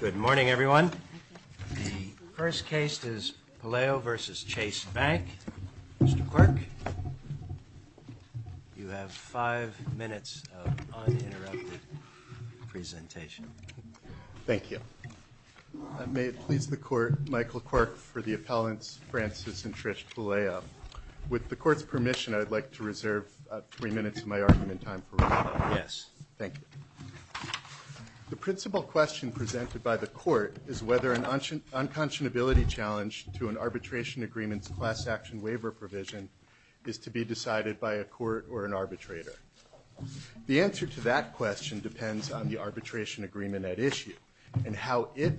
Good morning, everyone. The first case is Puleo v. Chase Bank. Mr. Quirk, you have five minutes of uninterrupted presentation. Thank you. May it please the Court, Michael Quirk for the appellants Francis and Trish Puleo. With the Court's permission, I would like to reserve three minutes of my argument time for rebuttal. Yes. Thank you. The principal question presented by the Court is whether an unconscionability challenge to an arbitration agreement's class action waiver provision is to be decided by a court or an arbitrator. The answer to that question depends on the arbitration agreement at issue and how it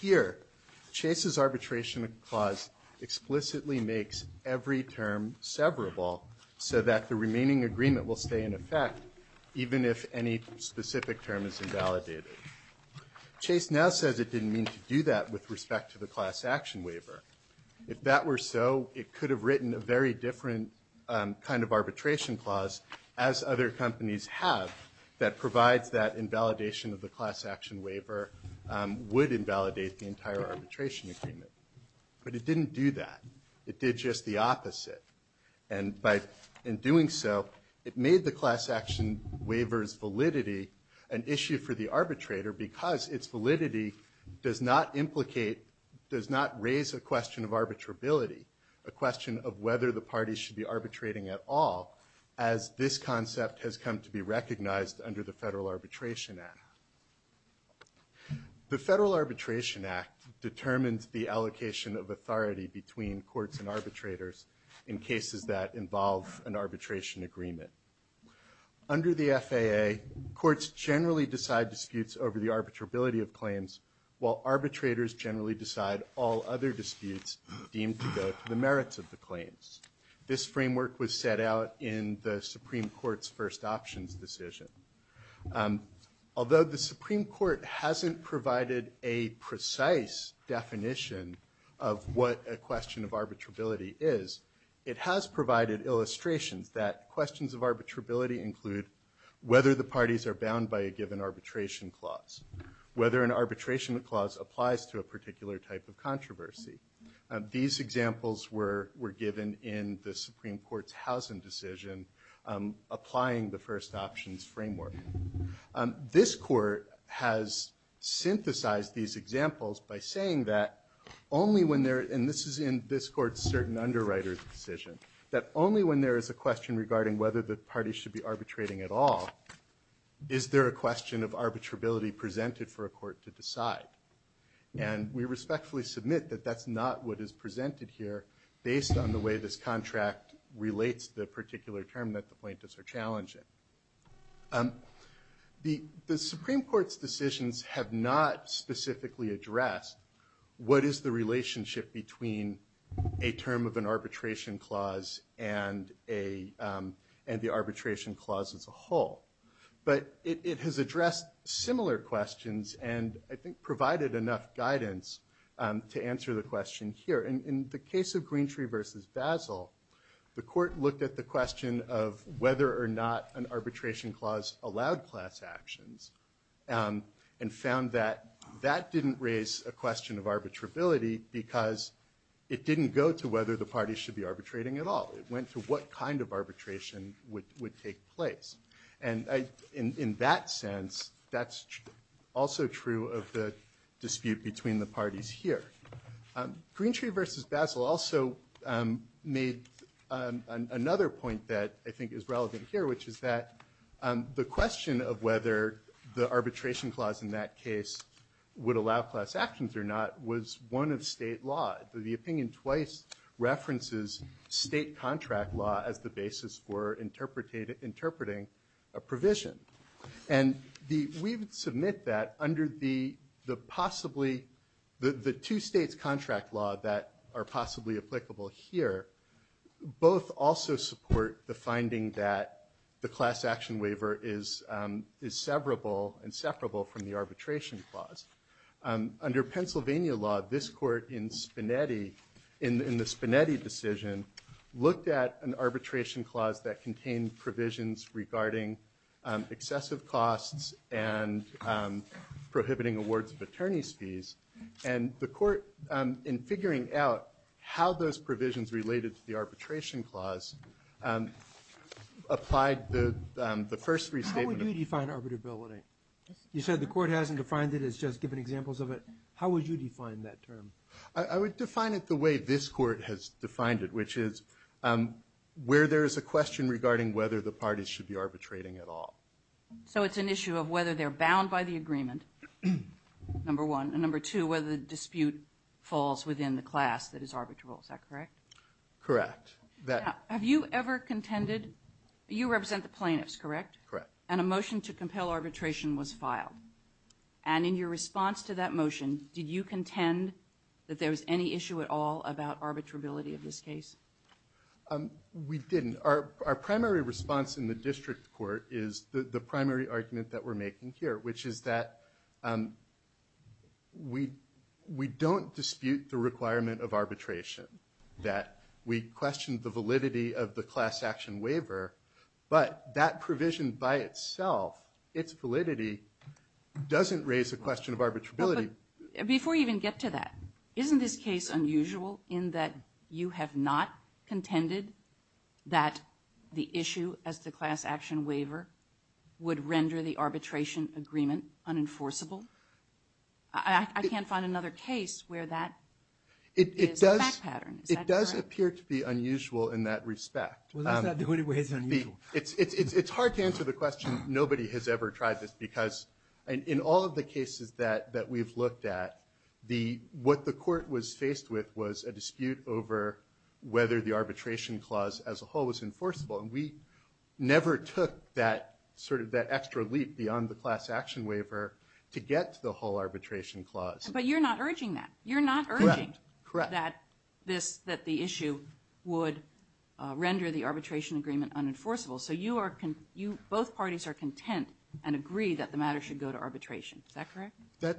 Here, Chase's arbitration clause explicitly makes every term severable so that the remaining agreement will stay in effect even if any specific term is invalidated. Chase now says it didn't mean to do that with respect to the class action waiver. If that were so, it could have written a very different kind of arbitration clause as other companies have provides that invalidation of the class action waiver would invalidate the entire arbitration agreement. But it didn't do that. It did just the opposite. And by doing so, it made the class action waiver's validity an issue for the arbitrator because its validity does not implicate, does not raise a question of arbitrability, a question of whether the party should be under the Federal Arbitration Act. The Federal Arbitration Act determines the allocation of authority between courts and arbitrators in cases that involve an arbitration agreement. Under the FAA, courts generally decide disputes over the arbitrability of claims, while arbitrators generally decide all other disputes deemed to go to the merits of the claims. This framework was set out in the Supreme Court's first options decision. Although the Supreme Court hasn't provided a precise definition of what a question of arbitrability is, it has provided illustrations that questions of arbitrability include whether the parties are bound by a given arbitration clause, whether an arbitration clause applies to a particular type of controversy. These examples were given in the Supreme Court's Howsam decision, applying the first options framework. This court has synthesized these examples by saying that only when there, and this is in this court's certain underwriter's decision, that only when there is a question regarding whether the party should be arbitrating at all, is there a question of arbitrability presented for a court to decide. And we respectfully submit that that's not what is presented here based on the way this contract relates to the particular term that the plaintiffs are challenging. The Supreme Court's decisions have not specifically addressed what is the relationship between a term of an arbitration clause and the arbitration clause as a whole. But it has addressed similar questions and I think provided enough guidance to answer the question here. In the case of Greentree versus Basel, the court looked at the question of whether or not an arbitration clause allowed class actions and found that that didn't raise a question of arbitrability because it didn't go to whether the parties should be arbitrating at all. It went to what kind of arbitration would take place. And in that sense, that's also true of the dispute between the parties here. Greentree versus Basel also made another point that I think is relevant here, which is that the question of whether the arbitration clause in that case would allow class actions or not was one of state law. The opinion twice references state contract law as the basis for interpreting a provision. And we submit that under the possibly, the two states contract law that are possibly applicable here, both also support the finding that the class action waiver is severable and separable from the arbitration clause. Under Pennsylvania law, this court in the Spinetti decision looked at an arbitration clause that contained provisions regarding excessive costs and prohibiting awards of attorney's fees. And the court, in figuring out how those provisions related to the arbitration clause, applied the first restatement of- How would you define arbitrability? You said the court hasn't defined it. It's just given examples of it. How would you define that term? I would define it the way this court has defined it, which is where there is a question regarding whether the parties should be arbitrating at all. So it's an issue of whether they're bound by the agreement, number one. And number two, whether the dispute falls within the class that is arbitrable. Is that correct? Correct. Now, have you ever contended, you represent the plaintiffs, correct? Correct. And a motion to compel arbitration was filed. And in your response to that motion, did you contend that there was any issue at all about arbitrability of this case? We didn't. Our primary response in the district court is the primary argument that we're making here, which is that we don't dispute the requirement of arbitration, that we question the validity of the class action waiver, but that provision by itself, its validity doesn't raise a question of arbitrability. Before you even get to that, isn't this case unusual in that you have not contended that the issue as the class action waiver would render the arbitration agreement unenforceable? I can't find another case where that is a fact pattern. Is that correct? It does appear to be unusual in that respect. Well, that's not the only way it's unusual. It's hard to answer the question, nobody has ever tried this, because in all of the cases that we've looked at, what the court was faced with was a dispute over whether the arbitration clause as a whole was enforceable, and we never took that extra leap beyond the class action waiver to get to the whole arbitration clause. But you're not urging that. You're not urging that the issue would render the arbitration agreement unenforceable, so both parties are content and agree that the matter should go to arbitration. Is that correct?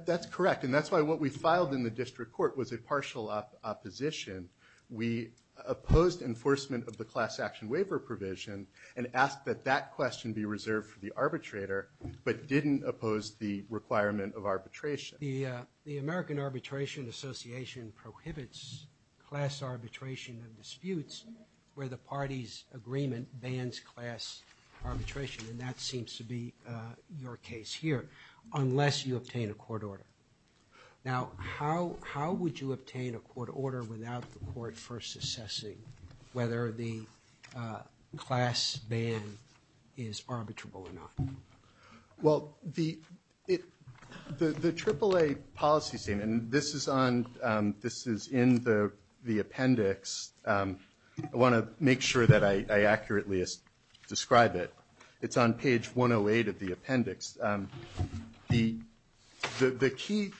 That's correct, and that's why what we filed in the district court was a partial opposition. We opposed enforcement of the class action waiver provision and asked that that question be reserved for the arbitrator, but didn't oppose the requirement of arbitration. The American Arbitration Association prohibits class arbitration of disputes where the party's agreement bans class arbitration, and that seems to be your case here, unless you obtain a court order. Now, how would you obtain a court order without the court first assessing whether the class ban is arbitrable or not? Well, the AAA policy statement, and this is in the appendix. I want to make sure that I accurately describe it. It's on page 108 of the appendix. The key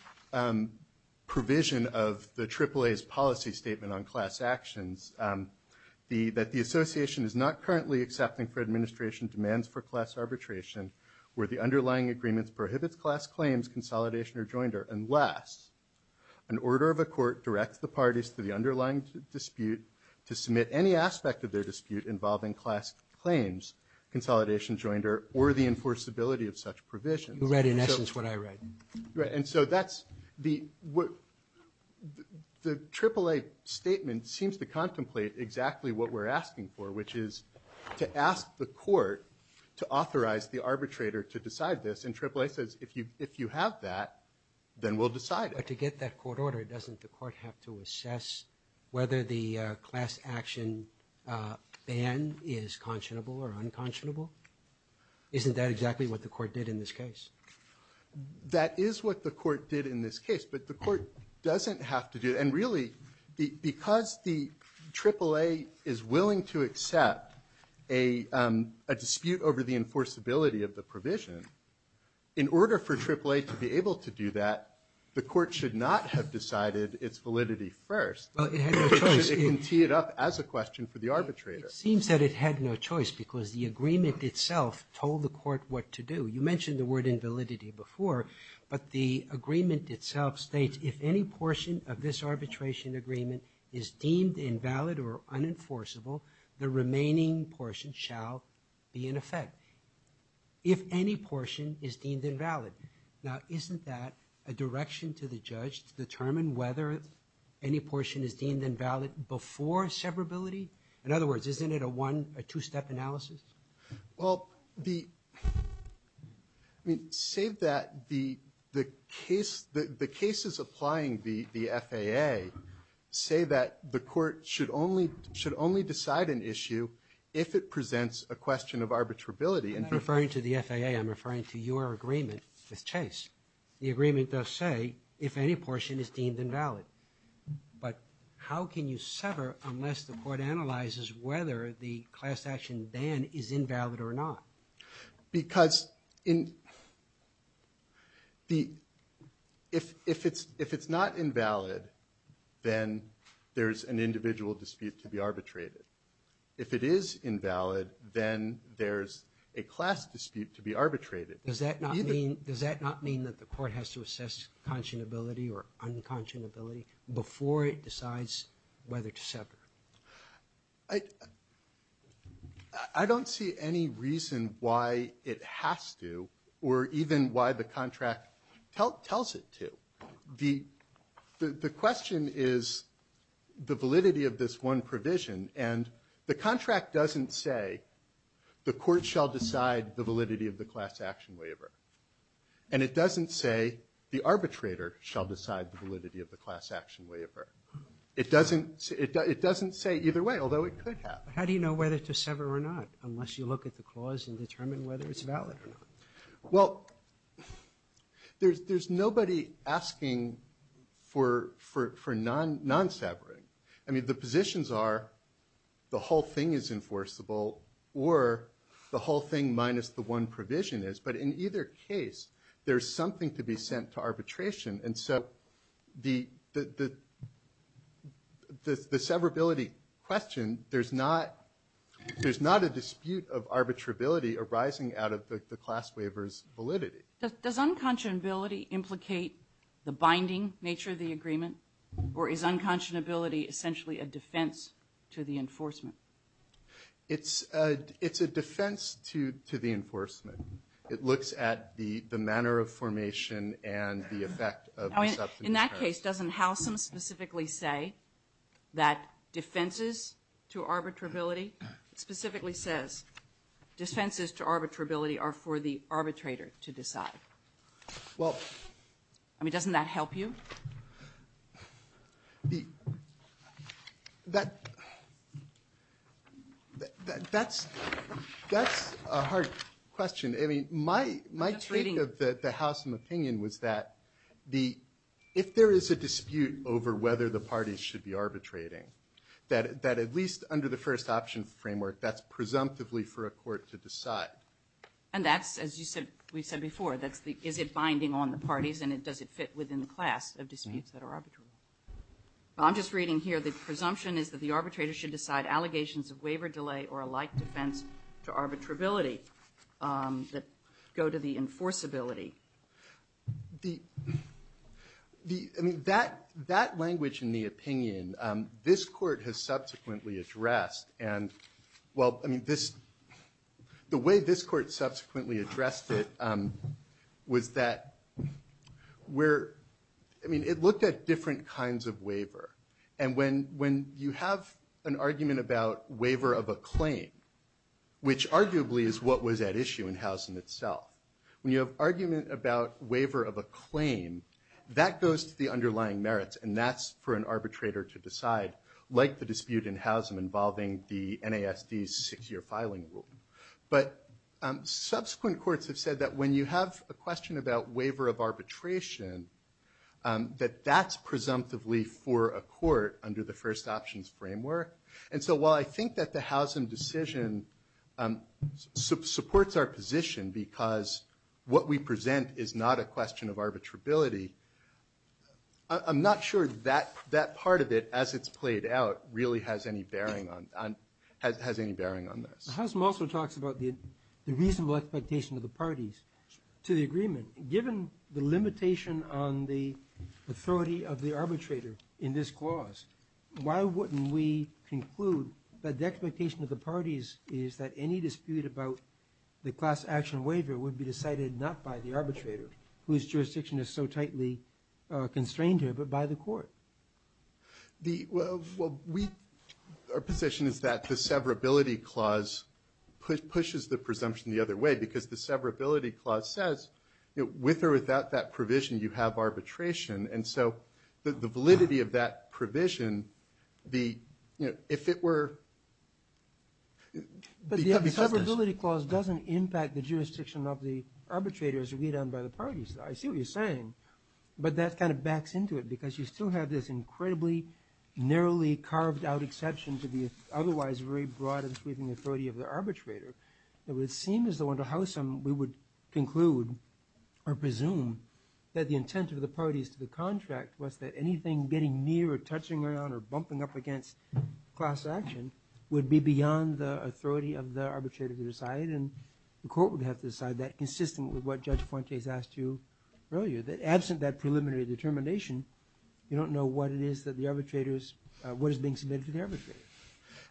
provision of the AAA's policy statement on class actions, that the association is not currently accepting for administration demands for class arbitration where the underlying agreements prohibits class claims, consolidation, or joinder, unless an order of a court directs the parties to the underlying dispute to submit any aspect of their dispute involving class claims, consolidation, joinder, or the enforceability of such provisions. You read, in essence, what I read. Right, and so that's the AAA statement seems to contemplate exactly what we're asking for, which is to ask the court to authorize the arbitrator to decide this, and AAA says, if you have that, then we'll decide it. But to get that court order, doesn't the court have to assess whether the class action ban is conscionable or unconscionable? Isn't that exactly what the court did in this case? That is what the court did in this case, but the court doesn't have to do it. And really, because the AAA is willing to accept a dispute over the enforceability of the provision, in order for AAA to be able to do that, the court should not have decided its validity first, it can tee it up as a question for the arbitrator. It seems that it had no choice because the agreement itself told the court what to do. You mentioned the word invalidity before, but the agreement itself states, if any portion of this arbitration agreement is deemed invalid or unenforceable, the remaining portion shall be in effect, if any portion is deemed invalid. Now, isn't that a direction to the judge to determine whether any portion is deemed invalid before severability? In other words, isn't it a one, a two-step analysis? Well, the, I mean, save that, the case, the cases applying the FAA say that the court should only, should only decide an issue if it presents a question of arbitrability. I'm not referring to the FAA, I'm referring to your agreement with Chase. The agreement does say, if any portion is deemed invalid. But how can you sever unless the court analyzes whether the class action ban is invalid or not? Because in, the, if, if it's, if it's not invalid, then there's an individual's dispute to be arbitrated. If it is invalid, then there's a class dispute to be arbitrated. Does that not mean, does that not mean that the court has to assess conscionability or unconscionability before it decides whether to sever? I, I don't see any reason why it has to, or even why the contract tell, tells it to. The, the, the question is the validity of this one provision. And the contract doesn't say, the court shall decide the validity of the class action waiver. And it doesn't say, the arbitrator shall decide the validity of the class action waiver. It doesn't, it doesn't say either way, although it could have. How do you know whether to sever or not, unless you look at the clause and determine whether it's valid or not? Well, there's, there's nobody asking for, for, for non, non-severing. I mean, the positions are the whole thing is enforceable, or the whole thing minus the one provision is. But in either case, there's something to be sent to arbitration. And so the, the, the, the, the severability question, there's not, there's not a dispute of arbitrability arising out of the, the class waiver's validity. Does unconscionability implicate the binding nature of the agreement? Or is unconscionability essentially a defense to the enforcement? It's a, it's a defense to, to the enforcement. It looks at the, the manner of formation and the effect of the substance charge. In that case, doesn't Howsam specifically say that defenses to arbitrability, specifically says defenses to arbitrability are for the arbitrator to decide? Well. I mean, doesn't that help you? The, that, that, that's, that's a hard question. I mean, my, my take of the, the Howsam opinion was that the, if there is a dispute over whether the parties should be arbitrating, that, that at least under the first option framework, that's presumptively for a court to decide. And that's, as you said, we've said before, that's the, is it binding on the parties and it, does it fit within the class of disputes that are arbitrable? I'm just reading here, the presumption is that the arbitrator should decide allegations of waiver delay or a like defense to arbitrability that go to the enforceability. The, the, I mean, that, that language in the opinion, this court has subsequently addressed and well, I mean, this, the way this court subsequently addressed it was that where, I mean, it looked at different kinds of waiver and when, when you have an argument about waiver of a claim, which arguably is what was at issue in Howsam itself, when you have an argument about waiver of a claim, that goes to the underlying merits and that's for an arbitrator to decide, like the dispute in Howsam involving the NASD six year filing rule. But subsequent courts have said that when you have a question about waiver of arbitration, that that's presumptively for a court under the first options framework. And so while I think that the Howsam decision supports our position because what we present is not a question of arbitrability, I'm not sure that, that part of it as it's played out really has any bearing on, has any bearing on this. Howsam also talks about the reasonable expectation of the parties to the agreement, given the conclude that the expectation of the parties is that any dispute about the class action waiver would be decided not by the arbitrator, whose jurisdiction is so tightly constrained here, but by the court. The, well, we, our position is that the severability clause pushes the presumption the other way because the severability clause says with or without that provision, you have arbitration. And so the validity of that provision, the, you know, if it were, it would be separate. But the severability clause doesn't impact the jurisdiction of the arbitrator as agreed on by the parties. I see what you're saying. But that kind of backs into it because you still have this incredibly narrowly carved out exception to the otherwise very broad and sweeping authority of the arbitrator. It would seem as though under Howsam, we would conclude or presume that the intent of the contract was that anything getting near or touching on or bumping up against class action would be beyond the authority of the arbitrator to decide. And the court would have to decide that consistent with what Judge Fuentes asked you earlier, that absent that preliminary determination, you don't know what it is that the arbitrators, what is being submitted to the arbitrator.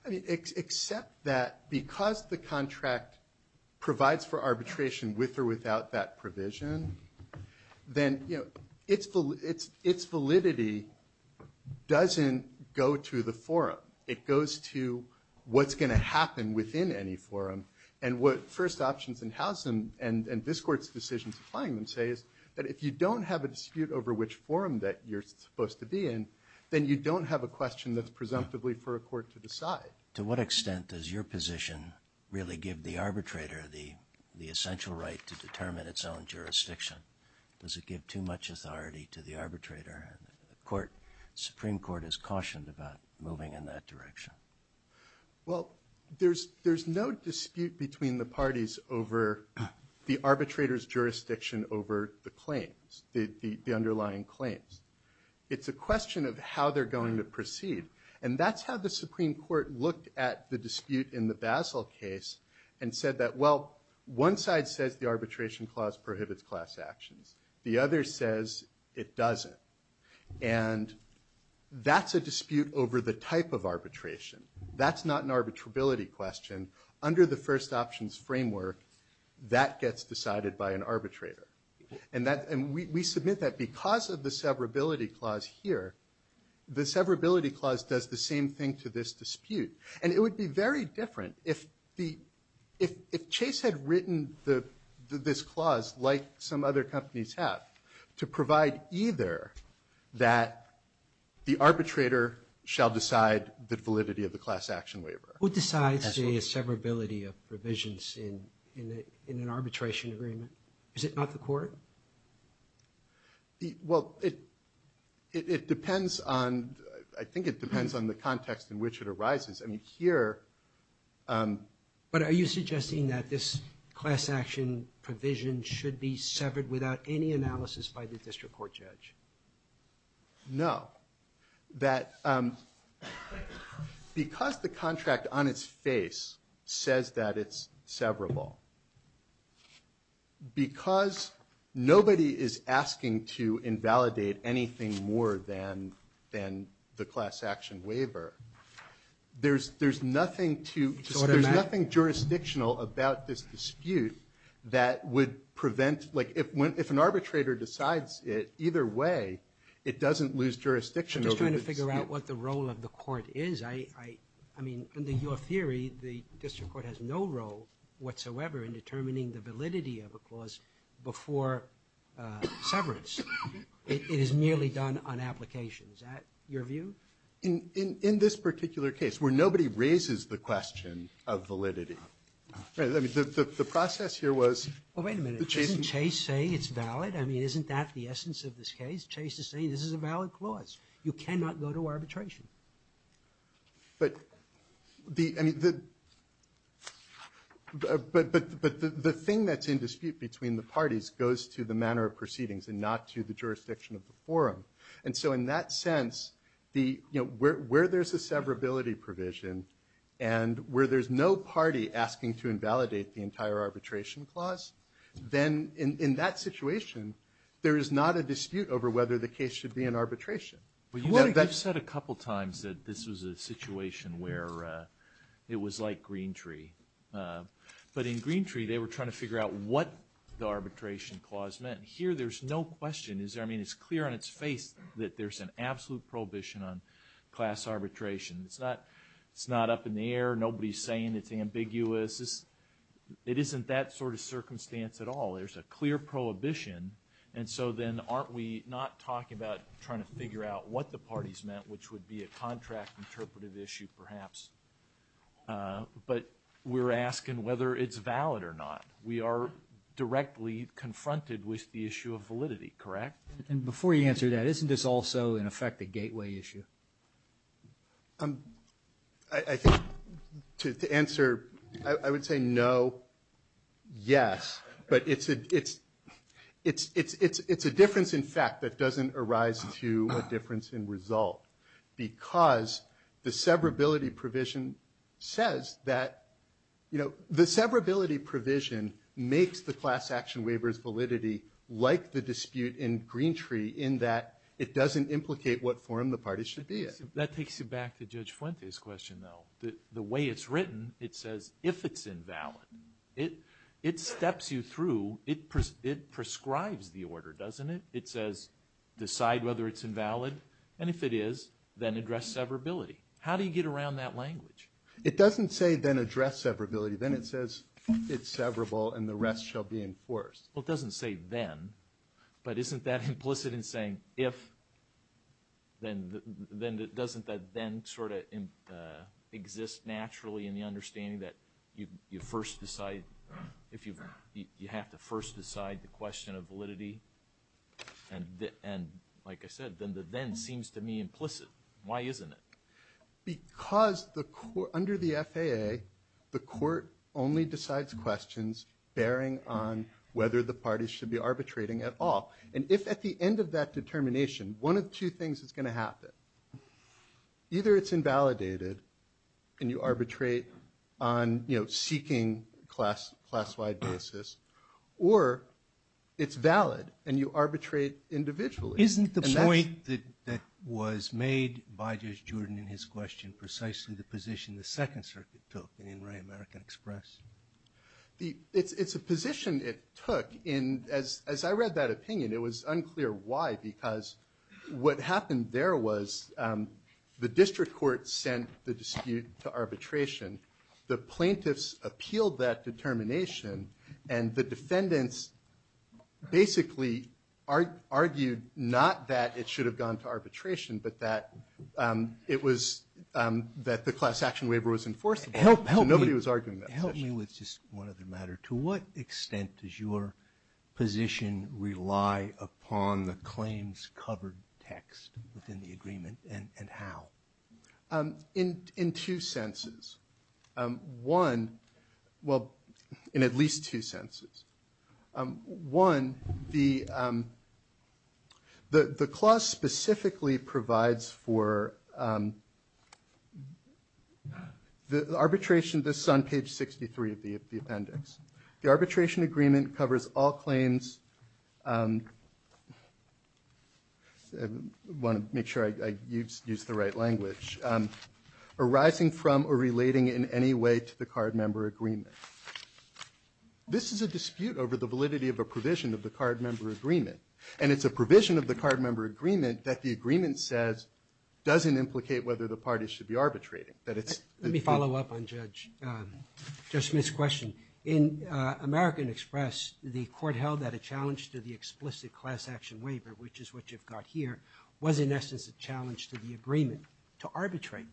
Except that because the contract provides for arbitration with or without that provision, then, you know, its validity doesn't go to the forum. It goes to what's going to happen within any forum. And what first options in Howsam and this court's decisions applying them say is that if you don't have a dispute over which forum that you're supposed to be in, then you don't have a question that's presumptively for a court to decide. To what extent does your position really give the arbitrator the essential right to determine its own jurisdiction? Does it give too much authority to the arbitrator? And the Supreme Court has cautioned about moving in that direction. Well, there's no dispute between the parties over the arbitrator's jurisdiction over the claims, the underlying claims. It's a question of how they're going to proceed. And that's how the Supreme Court looked at the dispute in the Basel case and said that, well, one side says the arbitration clause prohibits class actions. The other says it doesn't. And that's a dispute over the type of arbitration. That's not an arbitrability question. Under the first options framework, that gets decided by an arbitrator. And we submit that because of the severability clause here, the severability clause does the same thing to this dispute. And it would be very different if Chase had written this clause like some other companies have to provide either that the arbitrator shall decide the validity of the class action waiver. Who decides the severability of provisions in an arbitration agreement? Is it not the court? But are you suggesting that this class action provision should be severed without any analysis by the district court judge? No. Because the contract on its face says that it's severable, because nobody is asking to There's nothing jurisdictional about this dispute that would prevent, like if an arbitrator decides it, either way, it doesn't lose jurisdiction over the dispute. I'm just trying to figure out what the role of the court is. I mean, under your theory, the district court has no role whatsoever in determining the validity of a clause before severance. It is merely done on application. Is that your view? In this particular case, where nobody raises the question of validity, the process here was Well, wait a minute. Isn't Chase saying it's valid? I mean, isn't that the essence of this case? Chase is saying this is a valid clause. You cannot go to arbitration. But the thing that's in dispute between the parties goes to the manner of proceedings and not to the jurisdiction of the forum. And so in that sense, where there's a severability provision and where there's no party asking to invalidate the entire arbitration clause, then in that situation, there is not a dispute over whether the case should be in arbitration. Well, you've said a couple times that this was a situation where it was like Green Tree. But in Green Tree, they were trying to figure out what the arbitration clause meant. Here, there's no question. It's clear on its face that there's an absolute prohibition on class arbitration. It's not up in the air. Nobody's saying it's ambiguous. It isn't that sort of circumstance at all. There's a clear prohibition. And so then, aren't we not talking about trying to figure out what the parties meant, which would be a contract interpretive issue, perhaps? But we're asking whether it's valid or not. We are directly confronted with the issue of validity, correct? And before you answer that, isn't this also, in effect, a gateway issue? I think to answer, I would say no, yes. But it's a difference in fact that doesn't arise to a difference in result. Because the severability provision says that the severability provision makes the class action waivers validity like the dispute in Green Tree, in that it doesn't implicate what form the parties should be in. That takes you back to Judge Fuente's question, though. The way it's written, it says, if it's invalid. It steps you through. It prescribes the order, doesn't it? It says, decide whether it's invalid. And if it is, then address severability. How do you get around that language? It doesn't say, then address severability. Then it says, it's severable, and the rest shall be enforced. Well, it doesn't say then. But isn't that implicit in saying, if? Then doesn't that then sort of exist naturally in the understanding that you have to first decide the question of validity? And like I said, then the then seems to me implicit. Why isn't it? Because under the FAA, the court only decides questions bearing on whether the parties should be arbitrating at all. And if at the end of that determination, one of two things is going to happen. Either it's invalidated, and you arbitrate on seeking class-wide basis, or it's valid, and you arbitrate individually. Isn't the point that was made by Judge Jordan in his question precisely the position the Second Circuit took in In Re American Express? It's a position it took. And as I read that opinion, it was unclear why. Because what happened there was the district court sent the dispute to arbitration. The plaintiffs appealed that determination. And the defendants basically argued not that it should have gone to arbitration, but that it was that the class action waiver was enforceable. So nobody was arguing that position. Help me with just one other matter. To what extent does your position rely upon the claims covered text within the agreement, and how? In two senses. One, well, in at least two senses. One, the clause specifically provides for the arbitration. This is on page 63 of the appendix. The arbitration agreement covers all claims. I want to make sure I use the right language. Arising from or relating in any way to the card member agreement. This is a dispute over the validity of a provision of the card member agreement. And it's a provision of the card member agreement that the agreement says doesn't implicate whether the party should be arbitrating. That it's- Let me follow up on Judge Smith's question. In American Express, the court held that a challenge to the explicit class action waiver, which is what you've got here, was in essence a challenge to the agreement. To arbitrate.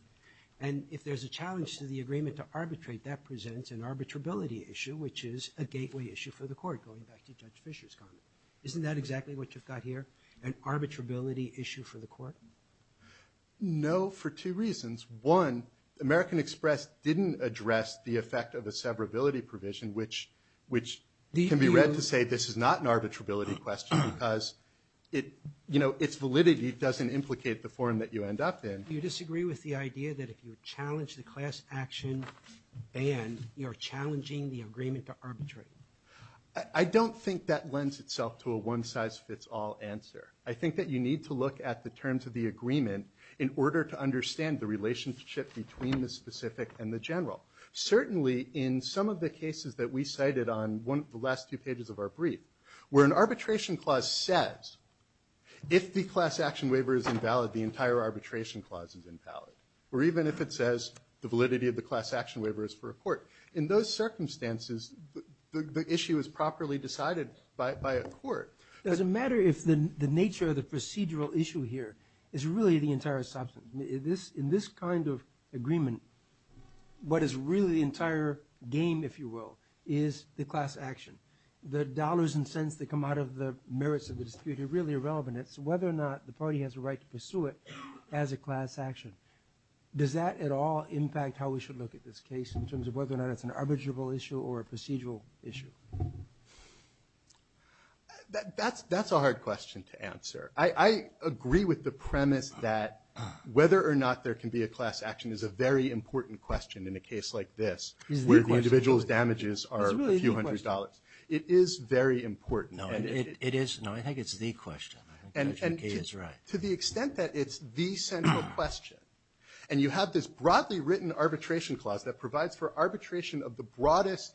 And if there's a challenge to the agreement to arbitrate, that presents an arbitrability issue, which is a gateway issue for the court, going back to Judge Fisher's comment. Isn't that exactly what you've got here? An arbitrability issue for the court? No, for two reasons. One, American Express didn't address the effect of a severability provision, which can be read to say this is not an arbitrability question because it's validity doesn't implicate the form that you end up in. Do you disagree with the idea that if you challenge the class action ban, you're challenging the agreement to arbitrate? I don't think that lends itself to a one size fits all answer. I think that you need to look at the terms of the agreement in order to understand the relationship between the specific and the general. Certainly, in some of the cases that we cited on one of the last two pages of our brief, where an arbitration clause says if the class action waiver is invalid, the entire arbitration clause is invalid. Or even if it says the validity of the class action waiver is for a court. In those circumstances, the issue is properly decided by a court. It doesn't matter if the nature of the procedural issue here is really the entire substance. In this kind of agreement, what is really the entire game, if you will, is the class action. The dollars and cents that come out of the merits of the dispute are really irrelevant. It's whether or not the party has a right to pursue it as a class action. Does that at all impact how we should look at this case, in terms of whether or not it's an arbitrable issue or a procedural issue? That's a hard question to answer. I agree with the premise that whether or not there can be a class action is a very important question in a case like this. Where the individual's damages are a few hundred dollars. It is very important. No, it is. No, I think it's the question. I think Judge McGee is right. To the extent that it's the central question. And you have this broadly written arbitration clause that provides for arbitration of the broadest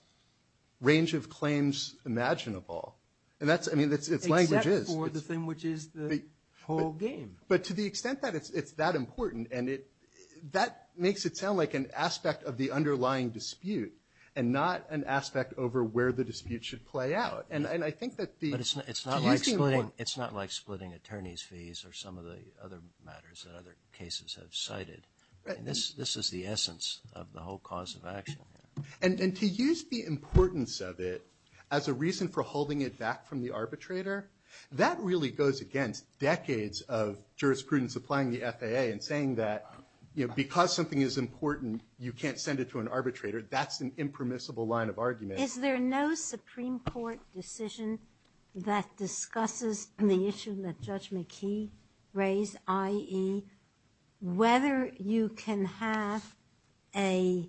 range of claims imaginable. And that's, I mean, it's languages. Except for the thing which is the whole game. But to the extent that it's that important, and not an aspect over where the dispute should play out. And I think that the- But it's not like splitting attorney's fees or some of the other matters that other cases have cited. This is the essence of the whole cause of action. And to use the importance of it as a reason for holding it back from the arbitrator, that really goes against decades of jurisprudence applying the FAA and saying that because something is important, you can't send it to an arbitrator. That's an impermissible line of argument. Is there no Supreme Court decision that discusses the issue that Judge McKee raised, i.e., whether you can have an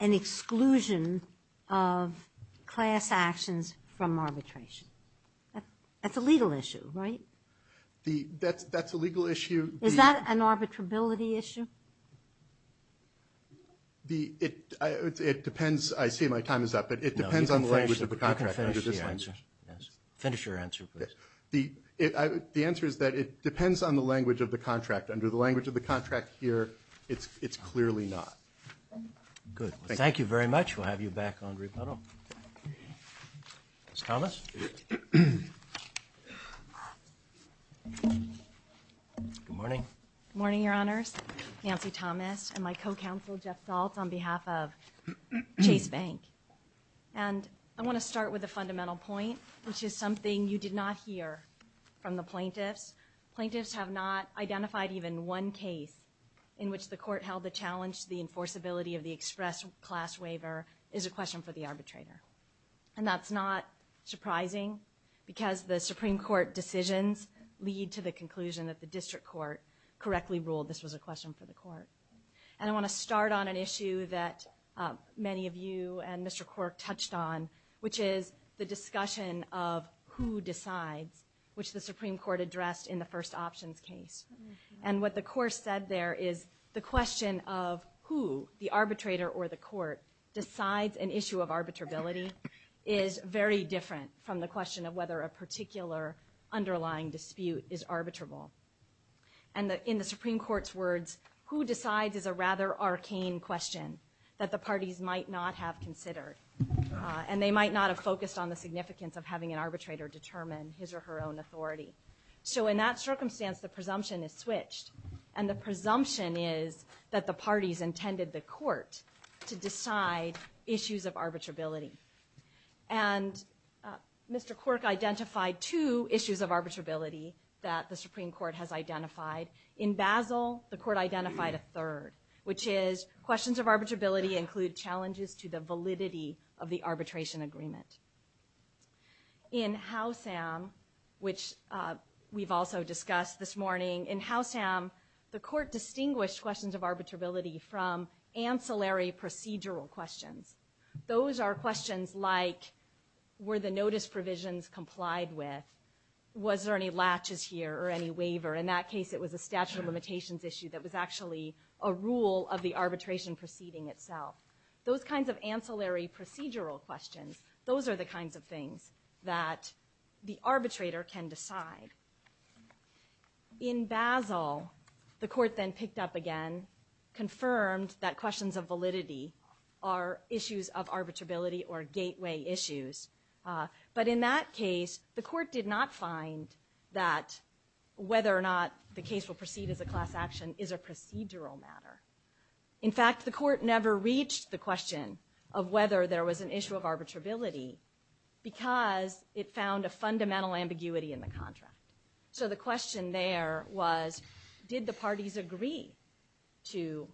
exclusion of class actions from arbitration? That's a legal issue, right? That's a legal issue. Is that an arbitrability issue? It depends, I see my time is up, but it depends on the language of the contract. No, you can finish your answer, yes. Finish your answer, please. The answer is that it depends on the language of the contract. Under the language of the contract here, it's clearly not. Good. Thank you very much. We'll have you back on rebuttal. Ms. Thomas? Good morning. Good morning, your honors. Nancy Thomas and my co-counsel, Jeff Zaltz, on behalf of Chase Bank. And I want to start with a fundamental point, which is something you did not hear from the plaintiffs. Plaintiffs have not identified even one case in which the court held the challenge to the enforceability of the express class waiver is a question for the arbitrator. And that's not surprising because the Supreme Court decisions lead to the conclusion that the district court correctly ruled this was a question for the court. And I want to start on an issue that many of you and Mr. Cork touched on, which is the discussion of who decides, which the Supreme Court addressed in the first options case. And what the court said there is the question of who, the arbitrator or the court, decides an issue of arbitrability is very different from the question of whether a particular underlying dispute is arbitrable. And in the Supreme Court's words, who decides is a rather arcane question that the parties might not have considered. And they might not have focused on the significance of having an arbitrator determine his or her own authority. So in that circumstance, the presumption is switched. And the presumption is that the parties intended the court to decide issues of arbitrability. And Mr. Cork identified two issues of arbitrability that the Supreme Court has identified. In Basel, the court identified a third, which is questions of arbitrability include challenges to the validity of the arbitration agreement. In Housham, which we've also discussed this morning, in Housham, the court distinguished questions of arbitrability from ancillary procedural questions. Those are questions like, were the notice provisions complied with? Was there any latches here or any waiver? In that case, it was a statute of limitations issue that was actually a rule of the arbitration proceeding itself. Those kinds of ancillary procedural questions, those are the kinds of things that the arbitrator can decide. In Basel, the court then picked up again, confirmed that questions of validity are issues of arbitrability or gateway issues. But in that case, the court did not find that whether or not the case will proceed as a class action is a procedural matter. In fact, the court never reached the question of whether there was an issue of arbitrability because it found a fundamental ambiguity in the contract. So the question there was, did the parties agree to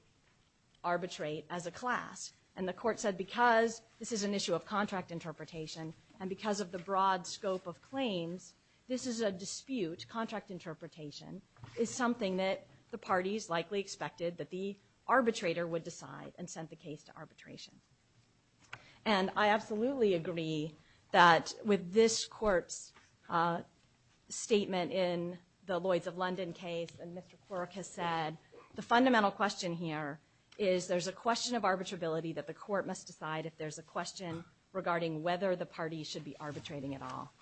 arbitrate as a class? And the court said, because this is an issue of contract interpretation and because of the broad scope of claims, this is a dispute, contract interpretation, is something that the parties likely expected that the arbitrator would decide and sent the case to arbitration. And I absolutely agree that with this court's statement in the Lloyds of London case, and Mr. Quirk has said, the fundamental question here is there's a question of arbitrability that the court must decide if there's a question regarding whether the party should be arbitrating at all.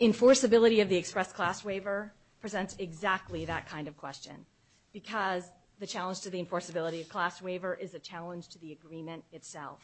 Enforceability of the express class waiver presents exactly that kind of question because the challenge to the enforceability of class waiver is a challenge to the agreement itself.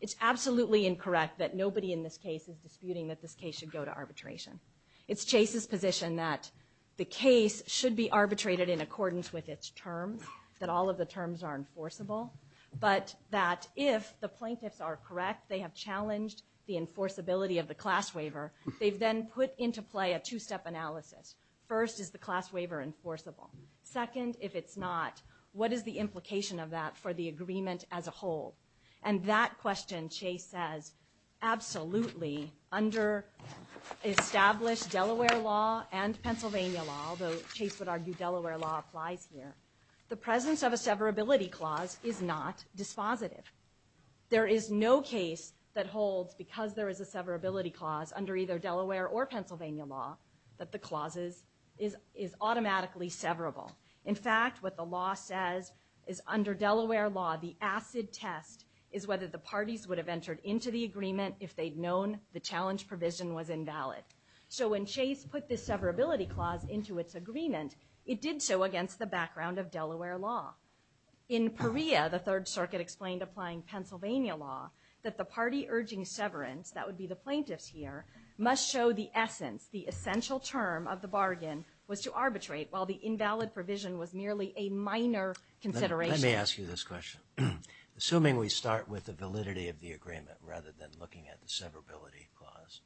It's absolutely incorrect that nobody in this case is disputing that this case should go to arbitration. It's Chase's position that the case should be arbitrated in accordance with its terms, that all of the terms are enforceable, but that if the plaintiffs are correct, they have challenged the enforceability of the class waiver, they've then put into play a two-step analysis. First, is the class waiver enforceable? Second, if it's not, what is the implication of that for the agreement as a whole? And that question, Chase says, absolutely, under established Delaware law and Pennsylvania law, although Chase would argue Delaware law applies here, the presence of a severability clause is not dispositive. There is no case that holds because there is a severability clause under either Delaware or Pennsylvania law that the clauses is automatically severable. In fact, what the law says is under Delaware law, the acid test is whether the parties would have entered into the agreement if they'd known the challenge provision was invalid. So when Chase put this severability clause into its agreement, it did so against the background of Delaware law. In Perea, the Third Circuit explained applying Pennsylvania law that the party urging severance, that would be the plaintiffs here, must show the essence, the essential term of the bargain was to arbitrate while the invalid provision was merely a minor consideration. Let me ask you this question. Assuming we start with the validity of the agreement rather than looking at the severability clause,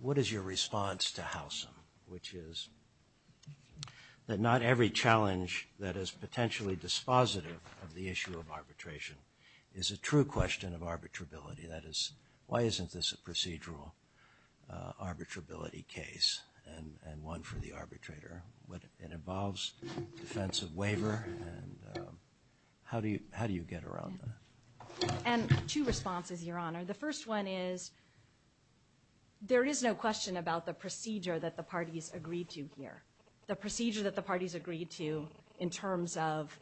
what is your response to Howsam? Which is that not every challenge that is potentially dispositive of the issue of arbitration is a true question of arbitrability. That is, why isn't this a procedural arbitrability case and one for the arbitrator? What it involves defensive waiver and how do you get around that? And two responses, Your Honor. The first one is there is no question about the procedure that the parties agreed to here. The procedure that the parties agreed to in terms of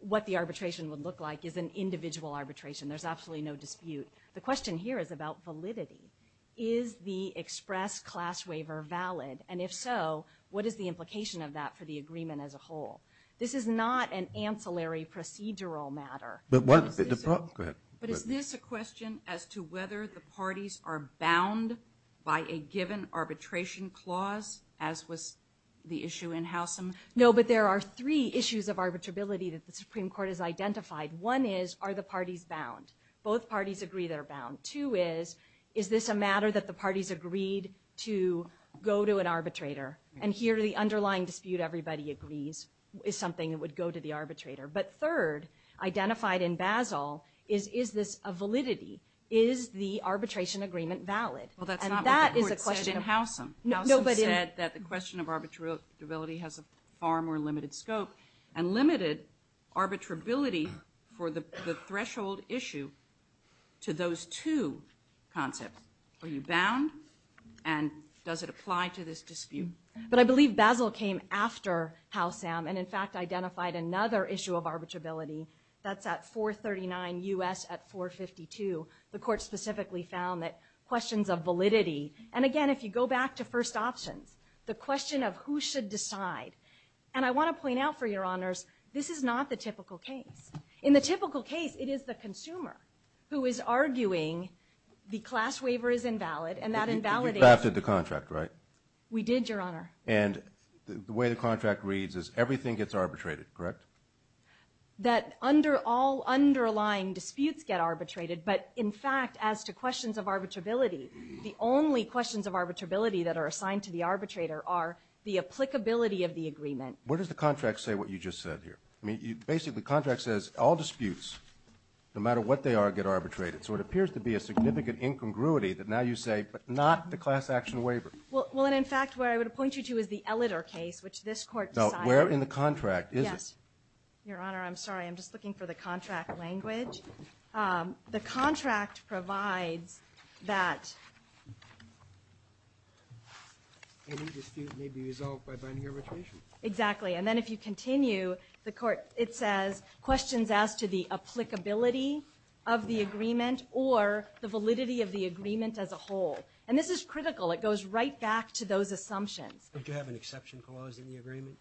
what the arbitration would look like is an individual arbitration. There's absolutely no dispute. The question here is about validity. Is the express class waiver valid? And if so, what is the implication of that for the agreement as a whole? This is not an ancillary procedural matter. Go ahead. But is this a question as to whether the parties are bound by a given arbitration clause, as was the issue in Howsam? No, but there are three issues of arbitrability that the Supreme Court has identified. One is, are the parties bound? Both parties agree they're bound. Two is, is this a matter that the parties agreed to go to an arbitrator? And here the underlying dispute everybody agrees is something that would go to the arbitrator. But third, identified in Basel, is this a validity? Is the arbitration agreement valid? Well, that's not what the court said in Howsam. Howsam said that the question of arbitrability has a far more limited scope and limited arbitrability for the threshold issue to those two concepts. Are you bound? And does it apply to this dispute? But I believe Basel came after Howsam and, in fact, identified another issue of arbitrability. That's at 439 U.S. at 452. The court specifically found that questions of validity. And again, if you go back to first options, the question of who should decide. And I want to point out for your honors, this is not the typical case. In the typical case, it is the consumer who is arguing the class waiver is invalid and that invalidation. You drafted the contract, right? We did, your honor. And the way the contract reads is everything gets arbitrated, correct? That all underlying disputes get arbitrated. But in fact, as to questions of arbitrability, the only questions of arbitrability that are assigned to the arbitrator are the applicability of the agreement. Where does the contract say what you just said here? I mean, basically, the contract says all disputes, no matter what they are, get arbitrated. So it appears to be a significant incongruity that now you say, but not the class action waiver. Well, and in fact, where I would point you to is the Elliter case, which this court decided. Where in the contract is it? Yes, your honor. I'm sorry. I'm just looking for the contract language. The contract provides that any dispute may be resolved by binding arbitration. Exactly. And then if you continue, the court, it says questions as to the applicability of the agreement or the validity of the agreement as a whole. And this is critical. It goes right back to those assumptions. Don't you have an exception clause in the agreement?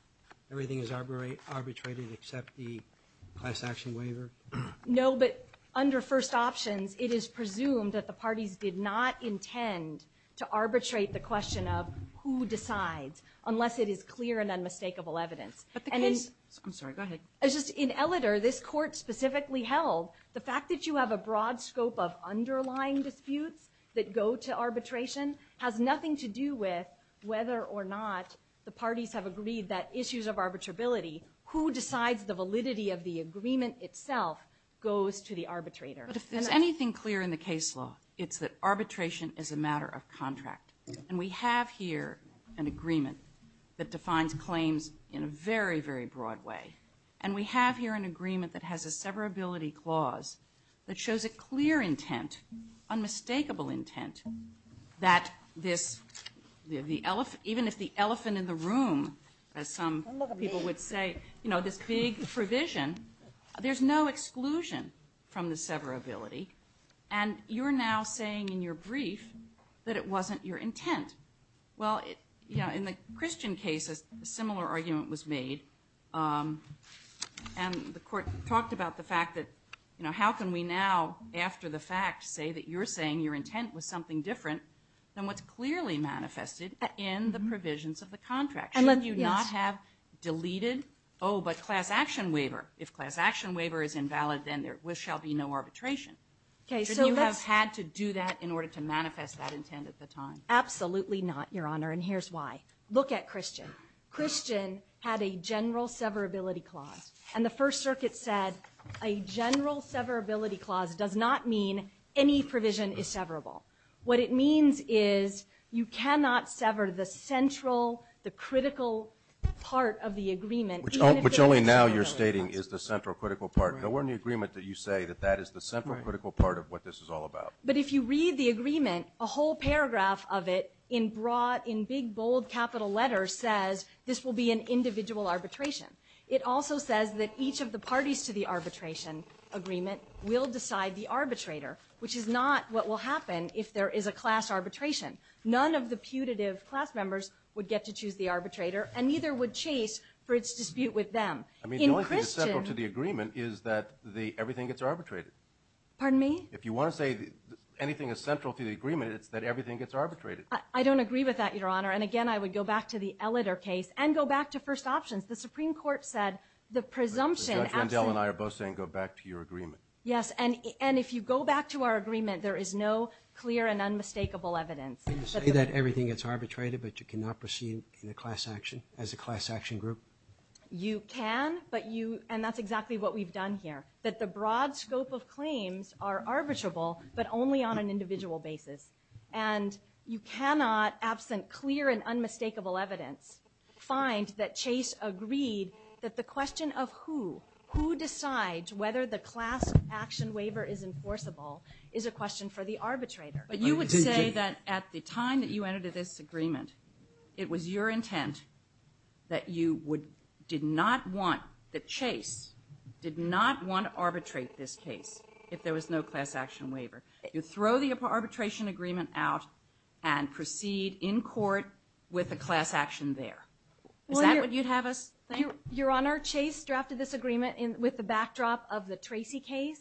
Everything is arbitrated except the class action waiver? No, but under first options, it is presumed that the parties did not intend to arbitrate the question of who decides, unless it is clear and unmistakable evidence. But the case, I'm sorry, go ahead. It's just in Elliter, this court specifically held the fact that you have a broad scope of underlying disputes that go to arbitration has nothing to do with whether or not the parties have agreed that issues of arbitrability, who decides the validity of the agreement itself goes to the arbitrator. But if there's anything clear in the case law, it's that arbitration is a matter of contract. And we have here an agreement that defines claims in a very, very broad way. And we have here an agreement that has a severability clause that shows a clear intent, unmistakable intent, that this, even if the elephant in the room, as some people would say, this big provision, there's no exclusion from the severability. And you're now saying in your brief that it wasn't your intent. Well, in the Christian case, a similar argument was made. And the court talked about the fact that how can we now, after the fact, say that you're saying your intent was something different than what's clearly manifested in the provisions of the contract? Should you not have deleted, oh, but class action waiver. If class action waiver is invalid, then there shall be no arbitration. Shouldn't you have had to do that in order to manifest that intent at the time? Absolutely not, Your Honor. And here's why. Look at Christian. Christian had a general severability clause. And the First Circuit said a general severability clause does not mean any provision is severable. What it means is you cannot sever the central, the critical part of the agreement. Which only now you're stating is the central critical part. There weren't any agreement that you say that that is the central critical part of what this is all about. But if you read the agreement, a whole paragraph of it in broad, in big, bold capital letters says this will be an individual arbitration. It also says that each of the parties to the arbitration agreement will decide the arbitrator, which is not what will happen if there is a class arbitration. None of the putative class members would get to choose the arbitrator, and neither would Chase for its dispute with them. I mean, the only thing that's central to the agreement is that everything gets arbitrated. Pardon me? If you want to say anything is central to the agreement, it's that everything gets arbitrated. I don't agree with that, Your Honor. And again, I would go back to the Elliter case and go back to first options. The Supreme Court said the presumption absent. But Judge Rendell and I are both saying, go back to your agreement. Yes, and if you go back to our agreement, there is no clear and unmistakable evidence. Can you say that everything gets arbitrated, but you cannot proceed in a class action, as a class action group? You can, but you, and that's exactly what we've done here, that the broad scope of claims are arbitrable, but only on an individual basis. And you cannot, absent clear and unmistakable evidence, find that Chase agreed that the question of who, who decides whether the class action waiver is enforceable, is a question for the arbitrator. But you would say that at the time that you entered this agreement, it was your intent that you did not want, that Chase did not want to arbitrate this case if there was no class action waiver. You throw the arbitration agreement out and proceed in court with a class action there. Is that what you'd have us think? Your Honor, Chase drafted this agreement with the backdrop of the Tracy case,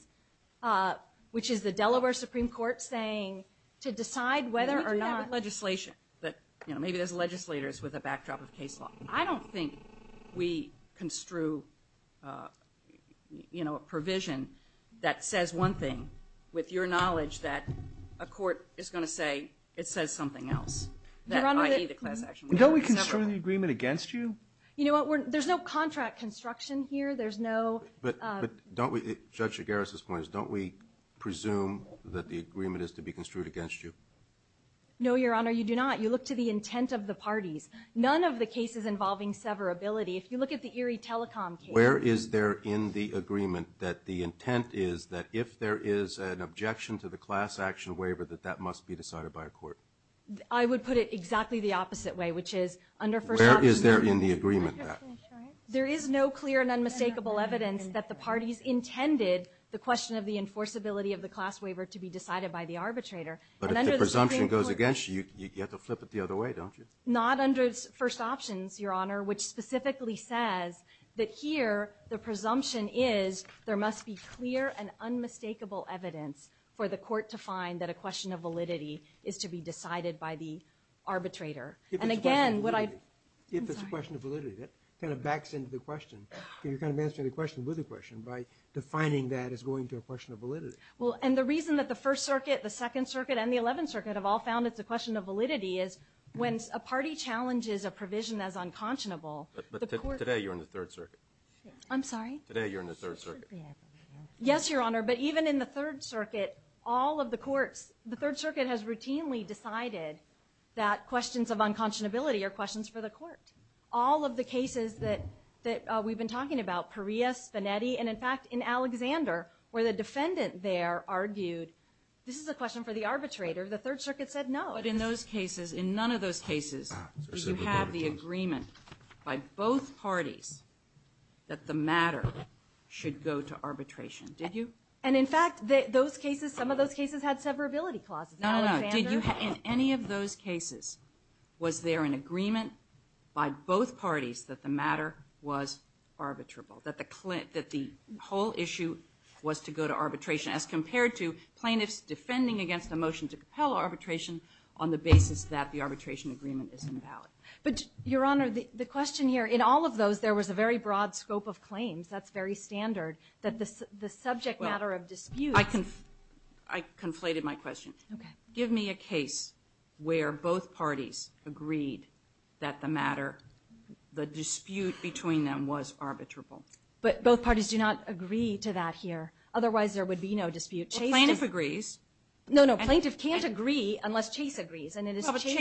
which is the Delaware Supreme Court saying to decide whether or not- We can have legislation, but maybe there's legislators with a backdrop of case law. I don't think we construe a provision that says one thing, with your knowledge that a court is going to say it says something else. Your Honor, don't we construe the agreement against you? You know what? There's no contract construction here. There's no- But don't we, Judge Gares' point is, don't we presume that the agreement is to be construed against you? No, Your Honor, you do not. You look to the intent of the parties. None of the cases involving severability. If you look at the Erie Telecom case- Where is there in the agreement that the intent is that if there is an objection to the class action waiver that that must be decided by a court? I would put it exactly the opposite way, which is under first- Where is there in the agreement that? There is no clear and unmistakable evidence that the parties intended the question of the enforceability of the class waiver to be decided by the arbitrator. But if the presumption goes against you, you have to flip it the other way, don't you? Not under first options, Your Honor, which specifically says that here the presumption is there must be clear and unmistakable evidence for the court to find that a question of validity is to be decided by the arbitrator. And again, what I- If it's a question of validity, that kind of backs into the question. You're kind of answering the question with the question by defining that as going to a question of validity. Well, and the reason that the First Circuit, the Second Circuit, and the Eleventh Circuit have all found it's a question of validity is when a party challenges a provision as unconscionable- But today you're in the Third Circuit. I'm sorry? Today you're in the Third Circuit. Yes, Your Honor, but even in the Third Circuit, all of the courts, the Third Circuit has routinely decided that questions of unconscionability are questions for the court. All of the cases that we've been talking about, Perea, Spanetti, and in fact in Alexander, where the defendant there argued, this is a question for the arbitrator, the Third Circuit said no. But in those cases, in none of those cases, did you have the agreement by both parties that the matter should go to arbitration? Did you? And in fact, those cases, some of those cases had severability clauses. No, no, no. Did you, in any of those cases, was there an agreement by both parties that the matter was arbitrable? That the whole issue was to go to arbitration as compared to plaintiffs defending against a motion to compel arbitration on the basis that the arbitration agreement is invalid? But Your Honor, the question here, in all of those, there was a very broad scope of claims. That's very standard. That the subject matter of dispute. I conflated my question. Okay. Give me a case where both parties agreed that the matter, the dispute between them was arbitrable. But both parties do not agree to that here. Otherwise, there would be no dispute. Well, plaintiff agrees. No, no, plaintiff can't agree unless Chase agrees. In accordance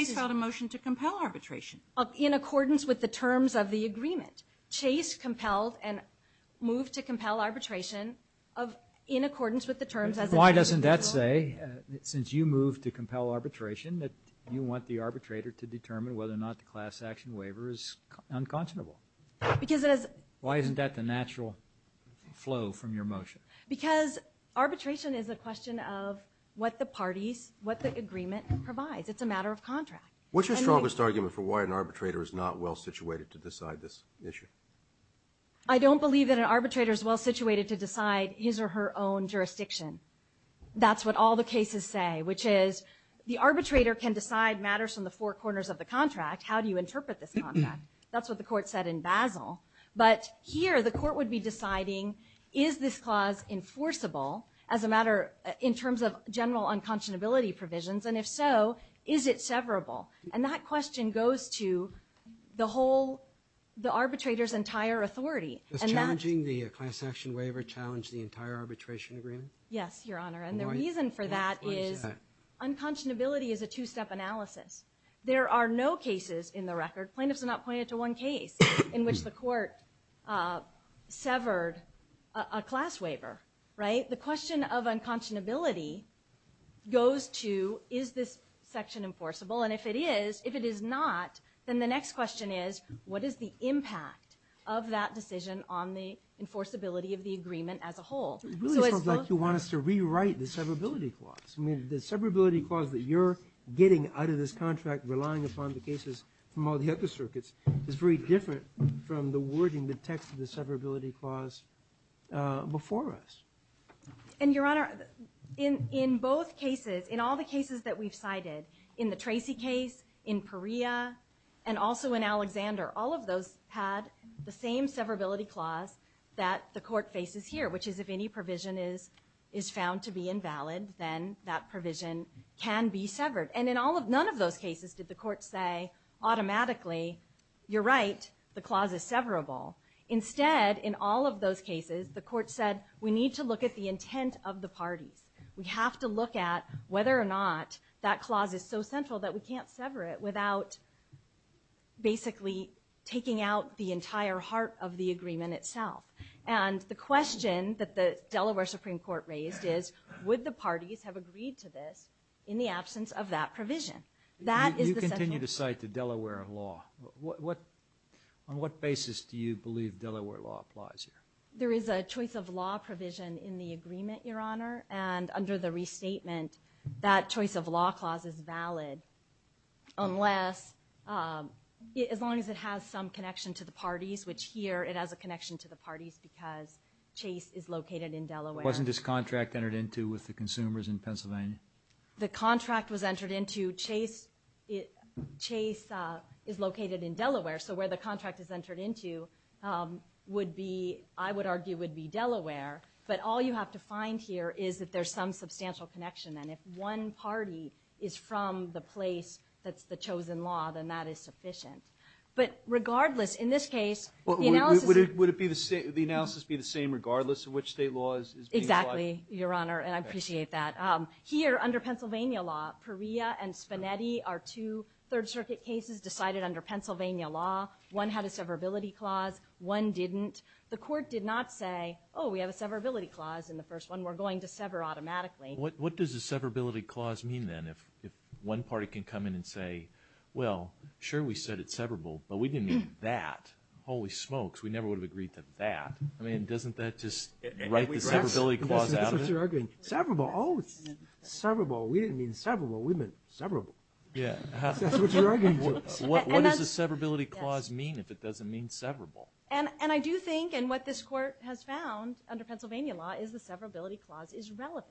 with the terms of the agreement. Chase compelled and moved to compel arbitration in accordance with the terms of the agreement. Why doesn't that say, since you moved to compel arbitration, that you want the arbitrator to determine whether or not the class action waiver is unconscionable? Because it is. Why isn't that the natural flow from your motion? Because arbitration is a question of what the parties, what the agreement provides. It's a matter of contract. What's your strongest argument for why an arbitrator is not well-situated to decide this issue? I don't believe that an arbitrator is well-situated to decide his or her own jurisdiction. That's what all the cases say, which is the arbitrator can decide matters from the four corners of the contract. How do you interpret this contract? That's what the court said in Basel. But here, the court would be deciding, is this clause enforceable as a matter in terms of general unconscionability provisions? And if so, is it severable? And that question goes to the arbitrator's entire authority. Does challenging the class action waiver challenge the entire arbitration agreement? Yes, Your Honor. And the reason for that is unconscionability is a two-step analysis. There are no cases in the record, plaintiffs are not pointed to one case, in which the court severed a class waiver. The question of unconscionability goes to, is this section enforceable? And if it is, if it is not, then the next question is, what is the impact of that decision on the enforceability of the agreement as a whole? It really sounds like you want us to rewrite the severability clause. I mean, the severability clause that you're getting out of this contract, relying upon the cases from all the other circuits, is very different from the wording, the text of the severability clause before us. And Your Honor, in both cases, in all the cases that we've cited, in the Tracy case, in Perea, and also in Alexander, all of those had the same severability clause that the court faces here, which is if any provision is found to be invalid, then that provision can be severed. And in none of those cases did the court say, automatically, you're right, the clause is severable. Instead, in all of those cases, the court said, we need to look at the intent of the parties. We have to look at whether or not that clause is so central that we can't sever it without basically taking out the entire heart of the agreement itself. And the question that the Delaware Supreme Court raised is, would the parties have agreed to this in the absence of that provision? That is the central question. You continue to cite the Delaware law. On what basis do you believe Delaware law applies here? There is a choice of law provision in the agreement, Your Honor, and under the restatement, that choice of law clause is valid, unless, as long as it has some connection to the parties, which here, it has a connection to the parties because Chase is located in Delaware. Wasn't this contract entered into with the consumers in Pennsylvania? The contract was entered into, Chase is located in Delaware, so where the contract is entered into would be, I would argue, would be Delaware. But all you have to find here is that there's some substantial connection, and if one party is from the place that's the chosen law, then that is sufficient. But regardless, in this case, the analysis- Would the analysis be the same regardless of which state law is being applied? Exactly, Your Honor, and I appreciate that. Here, under Pennsylvania law, Perea and Spinetti are two Third Circuit cases decided under Pennsylvania law. One had a severability clause, one didn't. The court did not say, oh, we have a severability clause in the first one, we're going to sever automatically. What does a severability clause mean, then, if one party can come in and say, well, sure, we said it's severable, but we didn't mean that. Holy smokes, we never would have agreed to that. I mean, doesn't that just write the severability clause out of it? That's what you're arguing. Severable, oh, it's severable. We didn't mean severable, we meant severable. Yeah. What does a severability clause mean if it doesn't mean severable? And I do think, and what this court has found under Pennsylvania law is the severability clause is relevant.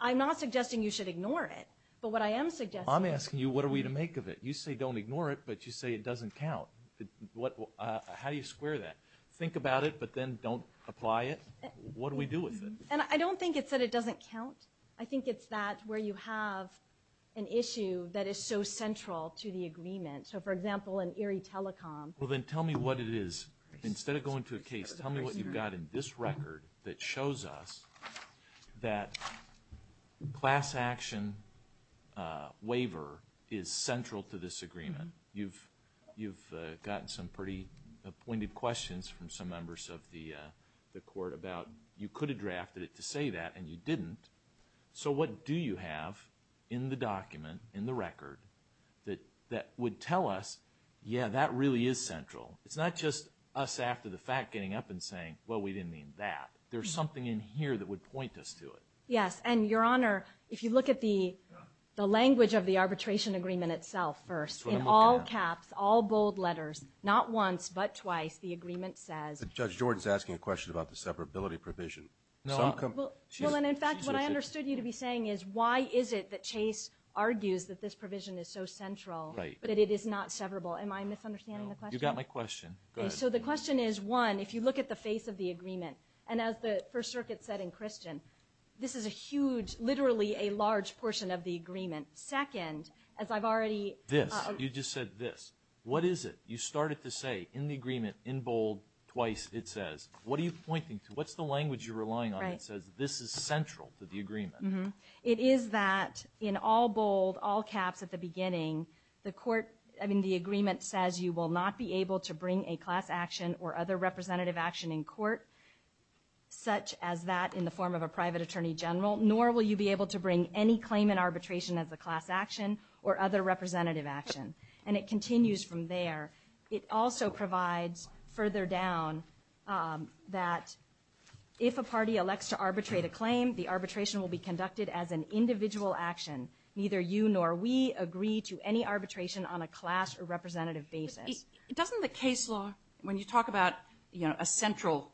I'm not suggesting you should ignore it, but what I am suggesting- I'm asking you, what are we to make of it? You say don't ignore it, but you say it doesn't count. How do you square that? Think about it, but then don't apply it? What do we do with it? And I don't think it's that it doesn't count. I think it's that where you have an issue that is so central to the agreement. So, for example, in Erie Telecom- Well, then tell me what it is. Instead of going to a case, tell me what you've got in this record that shows us that class action waiver is central to this agreement. You've gotten some pretty appointed questions from some members of the court about you could have drafted it to say that, and you didn't. So what do you have in the document, in the record that would tell us, yeah, that really is central? It's not just us after the fact getting up and saying, well, we didn't mean that. There's something in here that would point us to it. Yes, and, Your Honor, if you look at the language of the arbitration agreement itself first, in all caps, all bold letters, not once, but twice, the agreement says- Judge Jordan's asking a question about the severability provision. Well, and in fact, what I understood you to be saying is why is it that Chase argues that this provision is so central, that it is not severable? Am I misunderstanding the question? You got my question. Go ahead. So the question is, one, if you look at the face of the agreement, and as the First Circuit said in Christian, this is a huge, literally a large portion of the agreement. Second, as I've already- This, you just said this. What is it? You started to say in the agreement, in bold, twice, it says. What are you pointing to? What's the language you're relying on that says this is central to the agreement? It is that in all bold, all caps at the beginning, the court, I mean, the agreement says you will not be able to bring a class action or other representative action in court, such as that in the form of a private attorney general, nor will you be able to bring any claim in arbitration as a class action or other representative action. And it continues from there. It also provides further down that if a party elects to arbitrate a claim, the arbitration will be conducted as an individual action. Neither you nor we agree to any arbitration on a class or representative basis. Doesn't the case law, when you talk about a central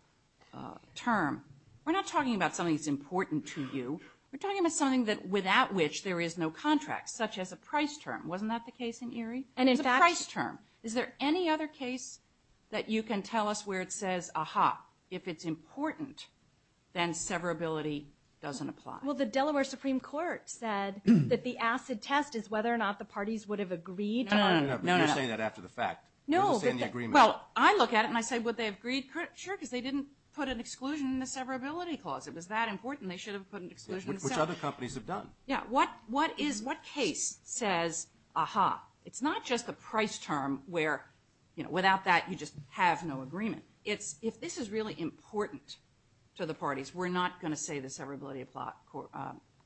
term, we're not talking about something that's important to you. We're talking about something that, without which, there is no contract, such as a price term. Wasn't that the case in Erie? It was a price term. Is there any other case that you can tell us where it says, aha, if it's important, then severability doesn't apply? Well, the Delaware Supreme Court said that the acid test is whether or not the parties would have agreed. No, no, no, no, no. No, well, I look at it and I say, would they have agreed? Sure, because they didn't put an exclusion in the severability clause. It was that important. They should have put an exclusion. Which other companies have done. Yeah, what case says, aha, it's not just the price term where, without that, you just have no agreement. It's if this is really important to the parties, we're not going to say the severability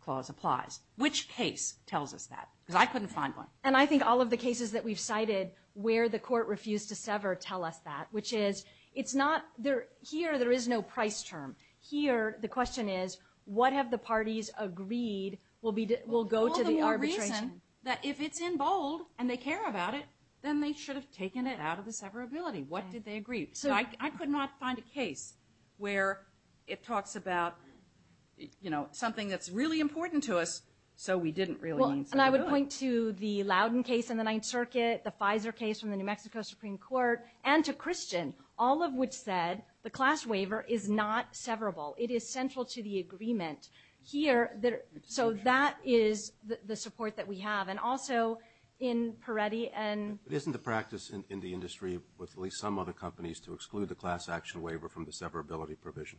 clause applies. Which case tells us that? Because I couldn't find one. And I think all of the cases that we've cited where the court refused to sever tell us that. Which is, it's not there. Here, there is no price term. Here, the question is, what have the parties agreed will go to the arbitration? All the more reason that if it's in bold and they care about it, then they should have taken it out of the severability. What did they agree? So I could not find a case where it talks about something that's really important to us, so we didn't really need someone to do it. And I would point to the Loudon case in the Ninth Circuit, the Pfizer case from the New Mexico Supreme Court, and to Christian, all of which said, the class waiver is not severable. It is central to the agreement. So that is the support that we have. And also in Peretti and... But isn't the practice in the industry, with at least some other companies, to exclude the class action waiver from the severability provision?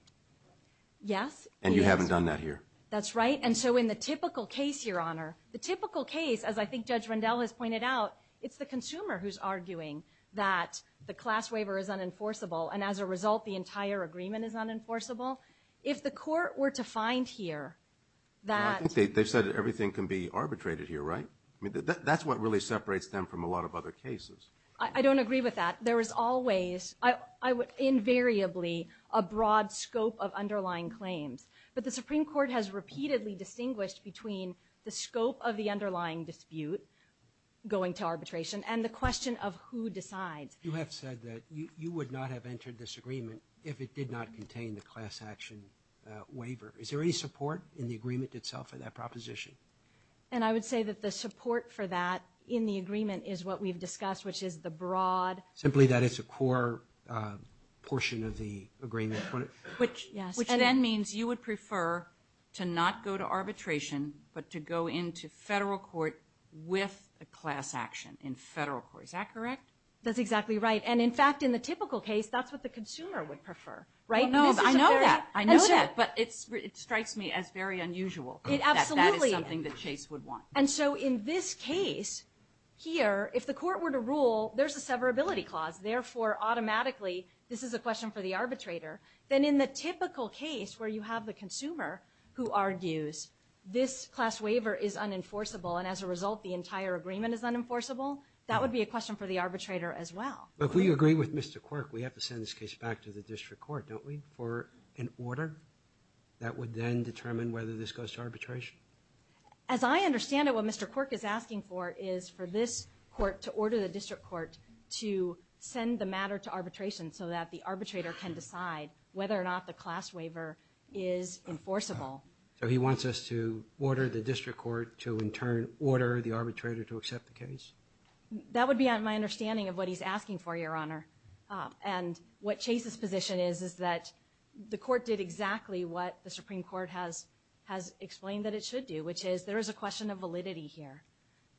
Yes. And you haven't done that here. That's right. And so in the typical case, Your Honor, the typical case, as I think Judge Rendell has pointed out, it's the consumer who's arguing that the class waiver is unenforceable, and as a result, the entire agreement is unenforceable. If the court were to find here that... Well, I think they've said everything can be arbitrated here, right? I mean, that's what really separates them from a lot of other cases. I don't agree with that. There is always, invariably, a broad scope of underlying claims. But the Supreme Court has repeatedly distinguished between the scope of the underlying dispute, going to arbitration, and the question of who decides. You have said that you would not have entered this agreement if it did not contain the class action waiver. Is there any support in the agreement itself for that proposition? And I would say that the support for that in the agreement is what we've discussed, which is the broad... Simply that it's a core portion of the agreement. Which then means you would prefer to not go to arbitration, but to go into federal court with a class action in federal court. Is that correct? That's exactly right. And in fact, in the typical case, that's what the consumer would prefer, right? No, I know that. I know that, but it strikes me as very unusual. It absolutely... That is something that Chase would want. And so in this case here, if the court were to rule, there's a severability clause, therefore, automatically, this is a question for the arbitrator. Then in the typical case where you have the consumer who argues, this class waiver is unenforceable, and as a result, the entire agreement is unenforceable, that would be a question for the arbitrator as well. But if we agree with Mr. Quirk, we have to send this case back to the district court, don't we? For an order that would then determine whether this goes to arbitration? As I understand it, what Mr. Quirk is asking for is for this court to order the district court to send the matter to arbitration so that the arbitrator can decide whether or not the class waiver is enforceable. So he wants us to order the district court to in turn order the arbitrator to accept the case? That would be my understanding of what he's asking for, Your Honor. And what Chase's position is is that the court did exactly what the Supreme Court has explained that it should do, which is there is a question of validity here.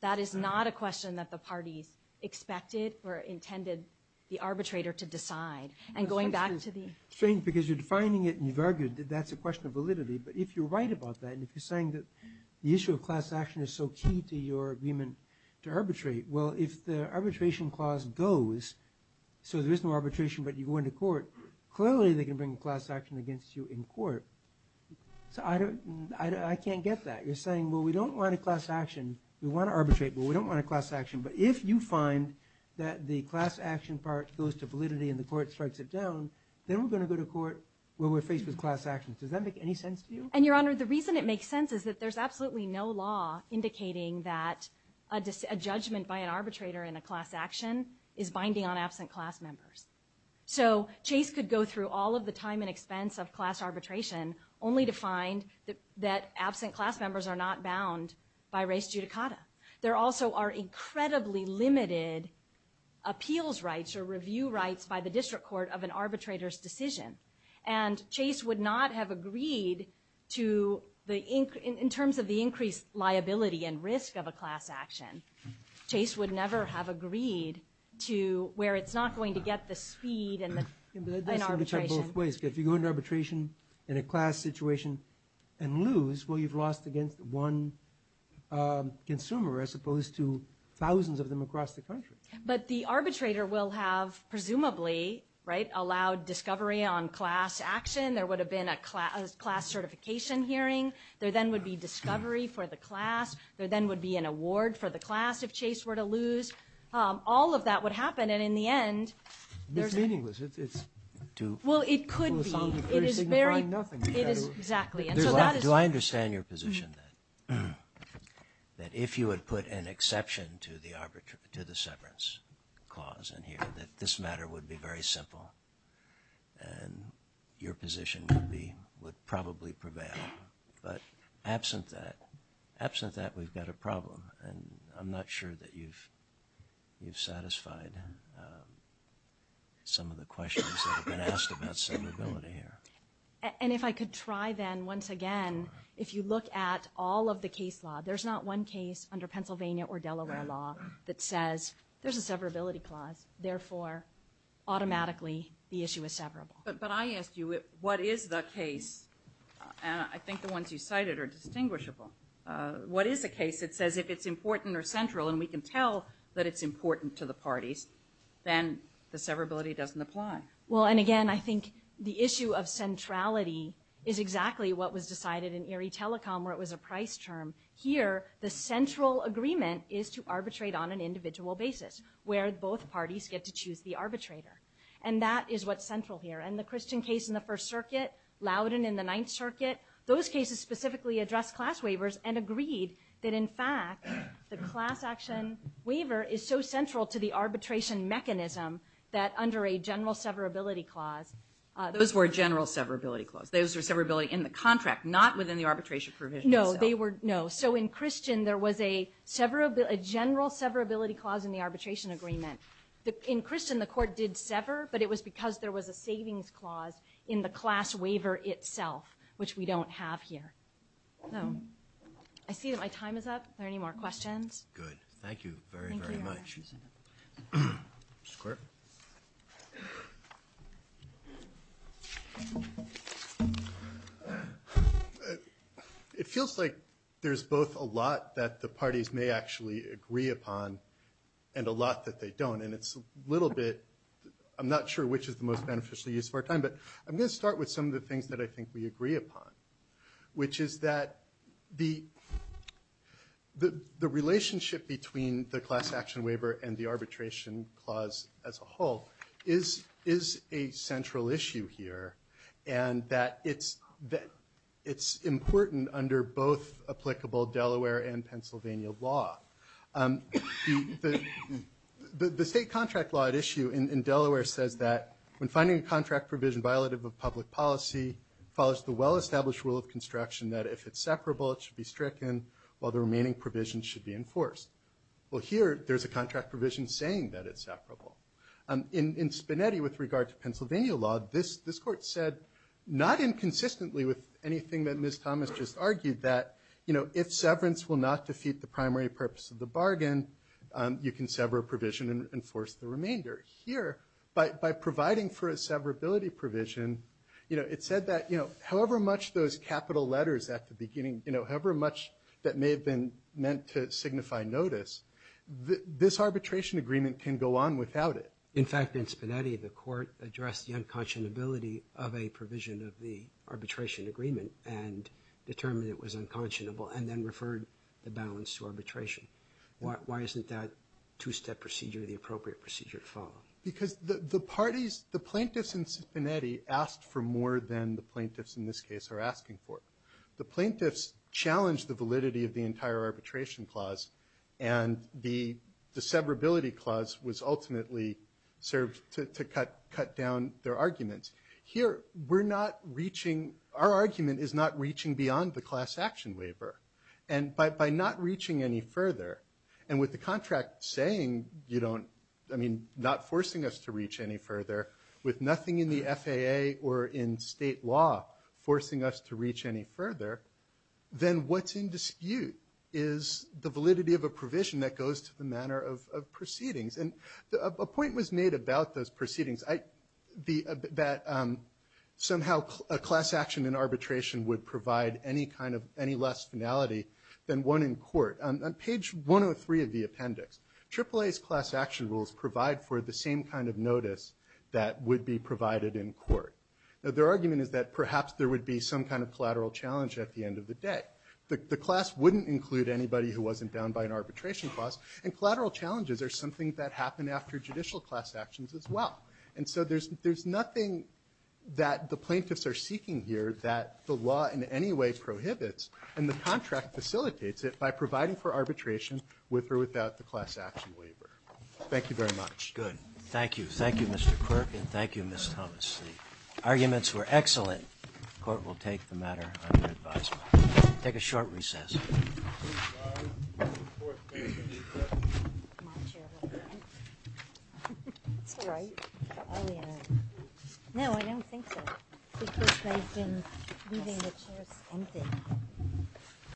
That is not a question that the parties expected or intended the arbitrator to decide. And going back to the... Strange because you're defining it and you've argued that that's a question of validity, but if you're right about that and if you're saying that the issue of class action is so key to your agreement to arbitrate, well, if the arbitration clause goes, so there is no arbitration, but you go into court, clearly they can bring a class action against you in court. So I can't get that. You're saying, well, we don't want a class action. We want to arbitrate, but we don't want a class action. But if you find that the class action part goes to validity and the court strikes it down, then we're going to go to court where we're faced with class action. Does that make any sense to you? And Your Honor, the reason it makes sense is that there's absolutely no law indicating that a judgment by an arbitrator in a class action is binding on absent class members. So Chase could go through all of the time and expense of class arbitration only to find that absent class members are not bound by res judicata. There also are incredibly limited appeals rights or review rights by the district court of an arbitrator's decision. And Chase would not have agreed to the, in terms of the increased liability and risk of a class action, Chase would never have agreed to where it's not going to get the speed and the arbitration. If you go into arbitration in a class situation and lose, well, you've lost against one consumer as opposed to thousands of them across the country. But the arbitrator will have, presumably, right, allowed discovery on class action. There would have been a class certification hearing. There then would be discovery for the class. There then would be an award for the class if Chase were to lose. All of that would happen. And in the end, there's a meaningless, it's too. Well, it could be. It is very nothing. It is exactly. Do I understand your position that if you would put an exception to the arbitration, to the severance clause in here, that this matter would be very simple. And your position would be, would probably prevail. But absent that, absent that, we've got a problem. And I'm not sure that you've, you've satisfied some of the questions that have been asked about severability here. And if I could try then once again, if you look at all of the case law, there's not one case under Pennsylvania or Delaware law that says there's a severability clause, therefore, automatically the issue is severable. But I asked you, what is the case? And I think the ones you cited are distinguishable. What is the case? It says if it's important or central and we can tell that it's important to the parties, then the severability doesn't apply. Well, and again, I think the issue of centrality is exactly what was decided in Erie Telecom, where it was a price term. Here, the central agreement is to arbitrate on an individual basis, where both parties get to choose the arbitrator. And that is what's central here. And the Christian case in the First Circuit, Loudon in the Ninth Circuit, those cases specifically address class waivers and agreed that in fact, the class action waiver is so central to the arbitration mechanism that under a general severability clause, those were general severability clause. Those are severability in the contract, not within the arbitration provision. No, they were no. So in Christian, there was a general severability clause in the arbitration agreement. In Christian, the court did sever, but it was because there was a savings clause in the class waiver itself, which we don't have here. So I see that my time is up. Are there any more questions? Good. Thank you very, very much. It feels like there's both a lot that the parties may actually agree upon and a lot that they don't. And it's a little bit, I'm not sure which is the most beneficial use of our time, but I'm going to start with some of the things that I think we agree upon, which is that the relationship between the class action waiver and the arbitration clause as a whole is a central issue here, and that it's important under both applicable Delaware and Pennsylvania law. The state contract law at issue in Delaware says that when finding a contract provision violative of public policy follows the well-established rule of construction that if it's separable, it should be stricken while the remaining provision should be enforced. Well, here there's a contract provision saying that it's separable. In Spinetti, with regard to Pennsylvania law, this court said, not inconsistently with anything that Ms. Thomas just argued, that if severance will not defeat the primary purpose of the bargain, you can sever a provision and enforce the remainder. Here, by providing for a severability provision, it said that however much those capital letters at the beginning, however much that may have been meant to signify notice, this arbitration agreement can go on without it. In fact, in Spinetti, the court addressed the unconscionability of a provision of the arbitration agreement and determined it was unconscionable and then referred the balance to arbitration. Why isn't that two-step procedure the appropriate procedure to follow? Because the parties, the plaintiffs in Spinetti, asked for more than the plaintiffs in this case are asking for. The plaintiffs challenged the validity of the entire arbitration clause and the severability clause was ultimately served to cut down their arguments. Here, we're not reaching, our argument is not reaching beyond the class action waiver. And by not reaching any further, and with the contract saying, you don't, I mean, not forcing us to reach any further, with nothing in the FAA or in state law forcing us to reach any further, then what's in dispute is the validity of a provision that goes to the manner of proceedings. And a point was made about those proceedings, that somehow a class action in arbitration would provide any less finality than one in court. On page 103 of the appendix, AAA's class action rules provide for the same kind of notice that would be provided in court. Now their argument is that perhaps there would be some kind of collateral challenge at the end of the day. The class wouldn't include anybody who wasn't bound by an arbitration clause and collateral challenges are something that happen after judicial class actions as well. And so there's nothing that the plaintiffs are seeking here that the law in any way prohibits and the contract facilitates it by providing for arbitration with or without the class action waiver. Thank you very much. Good. Thank you. Thank you, Mr. Quirk and thank you, Ms. Thomas. The arguments were excellent. Court will take the matter under advisement. Take a short recess. Leaving the chairs empty.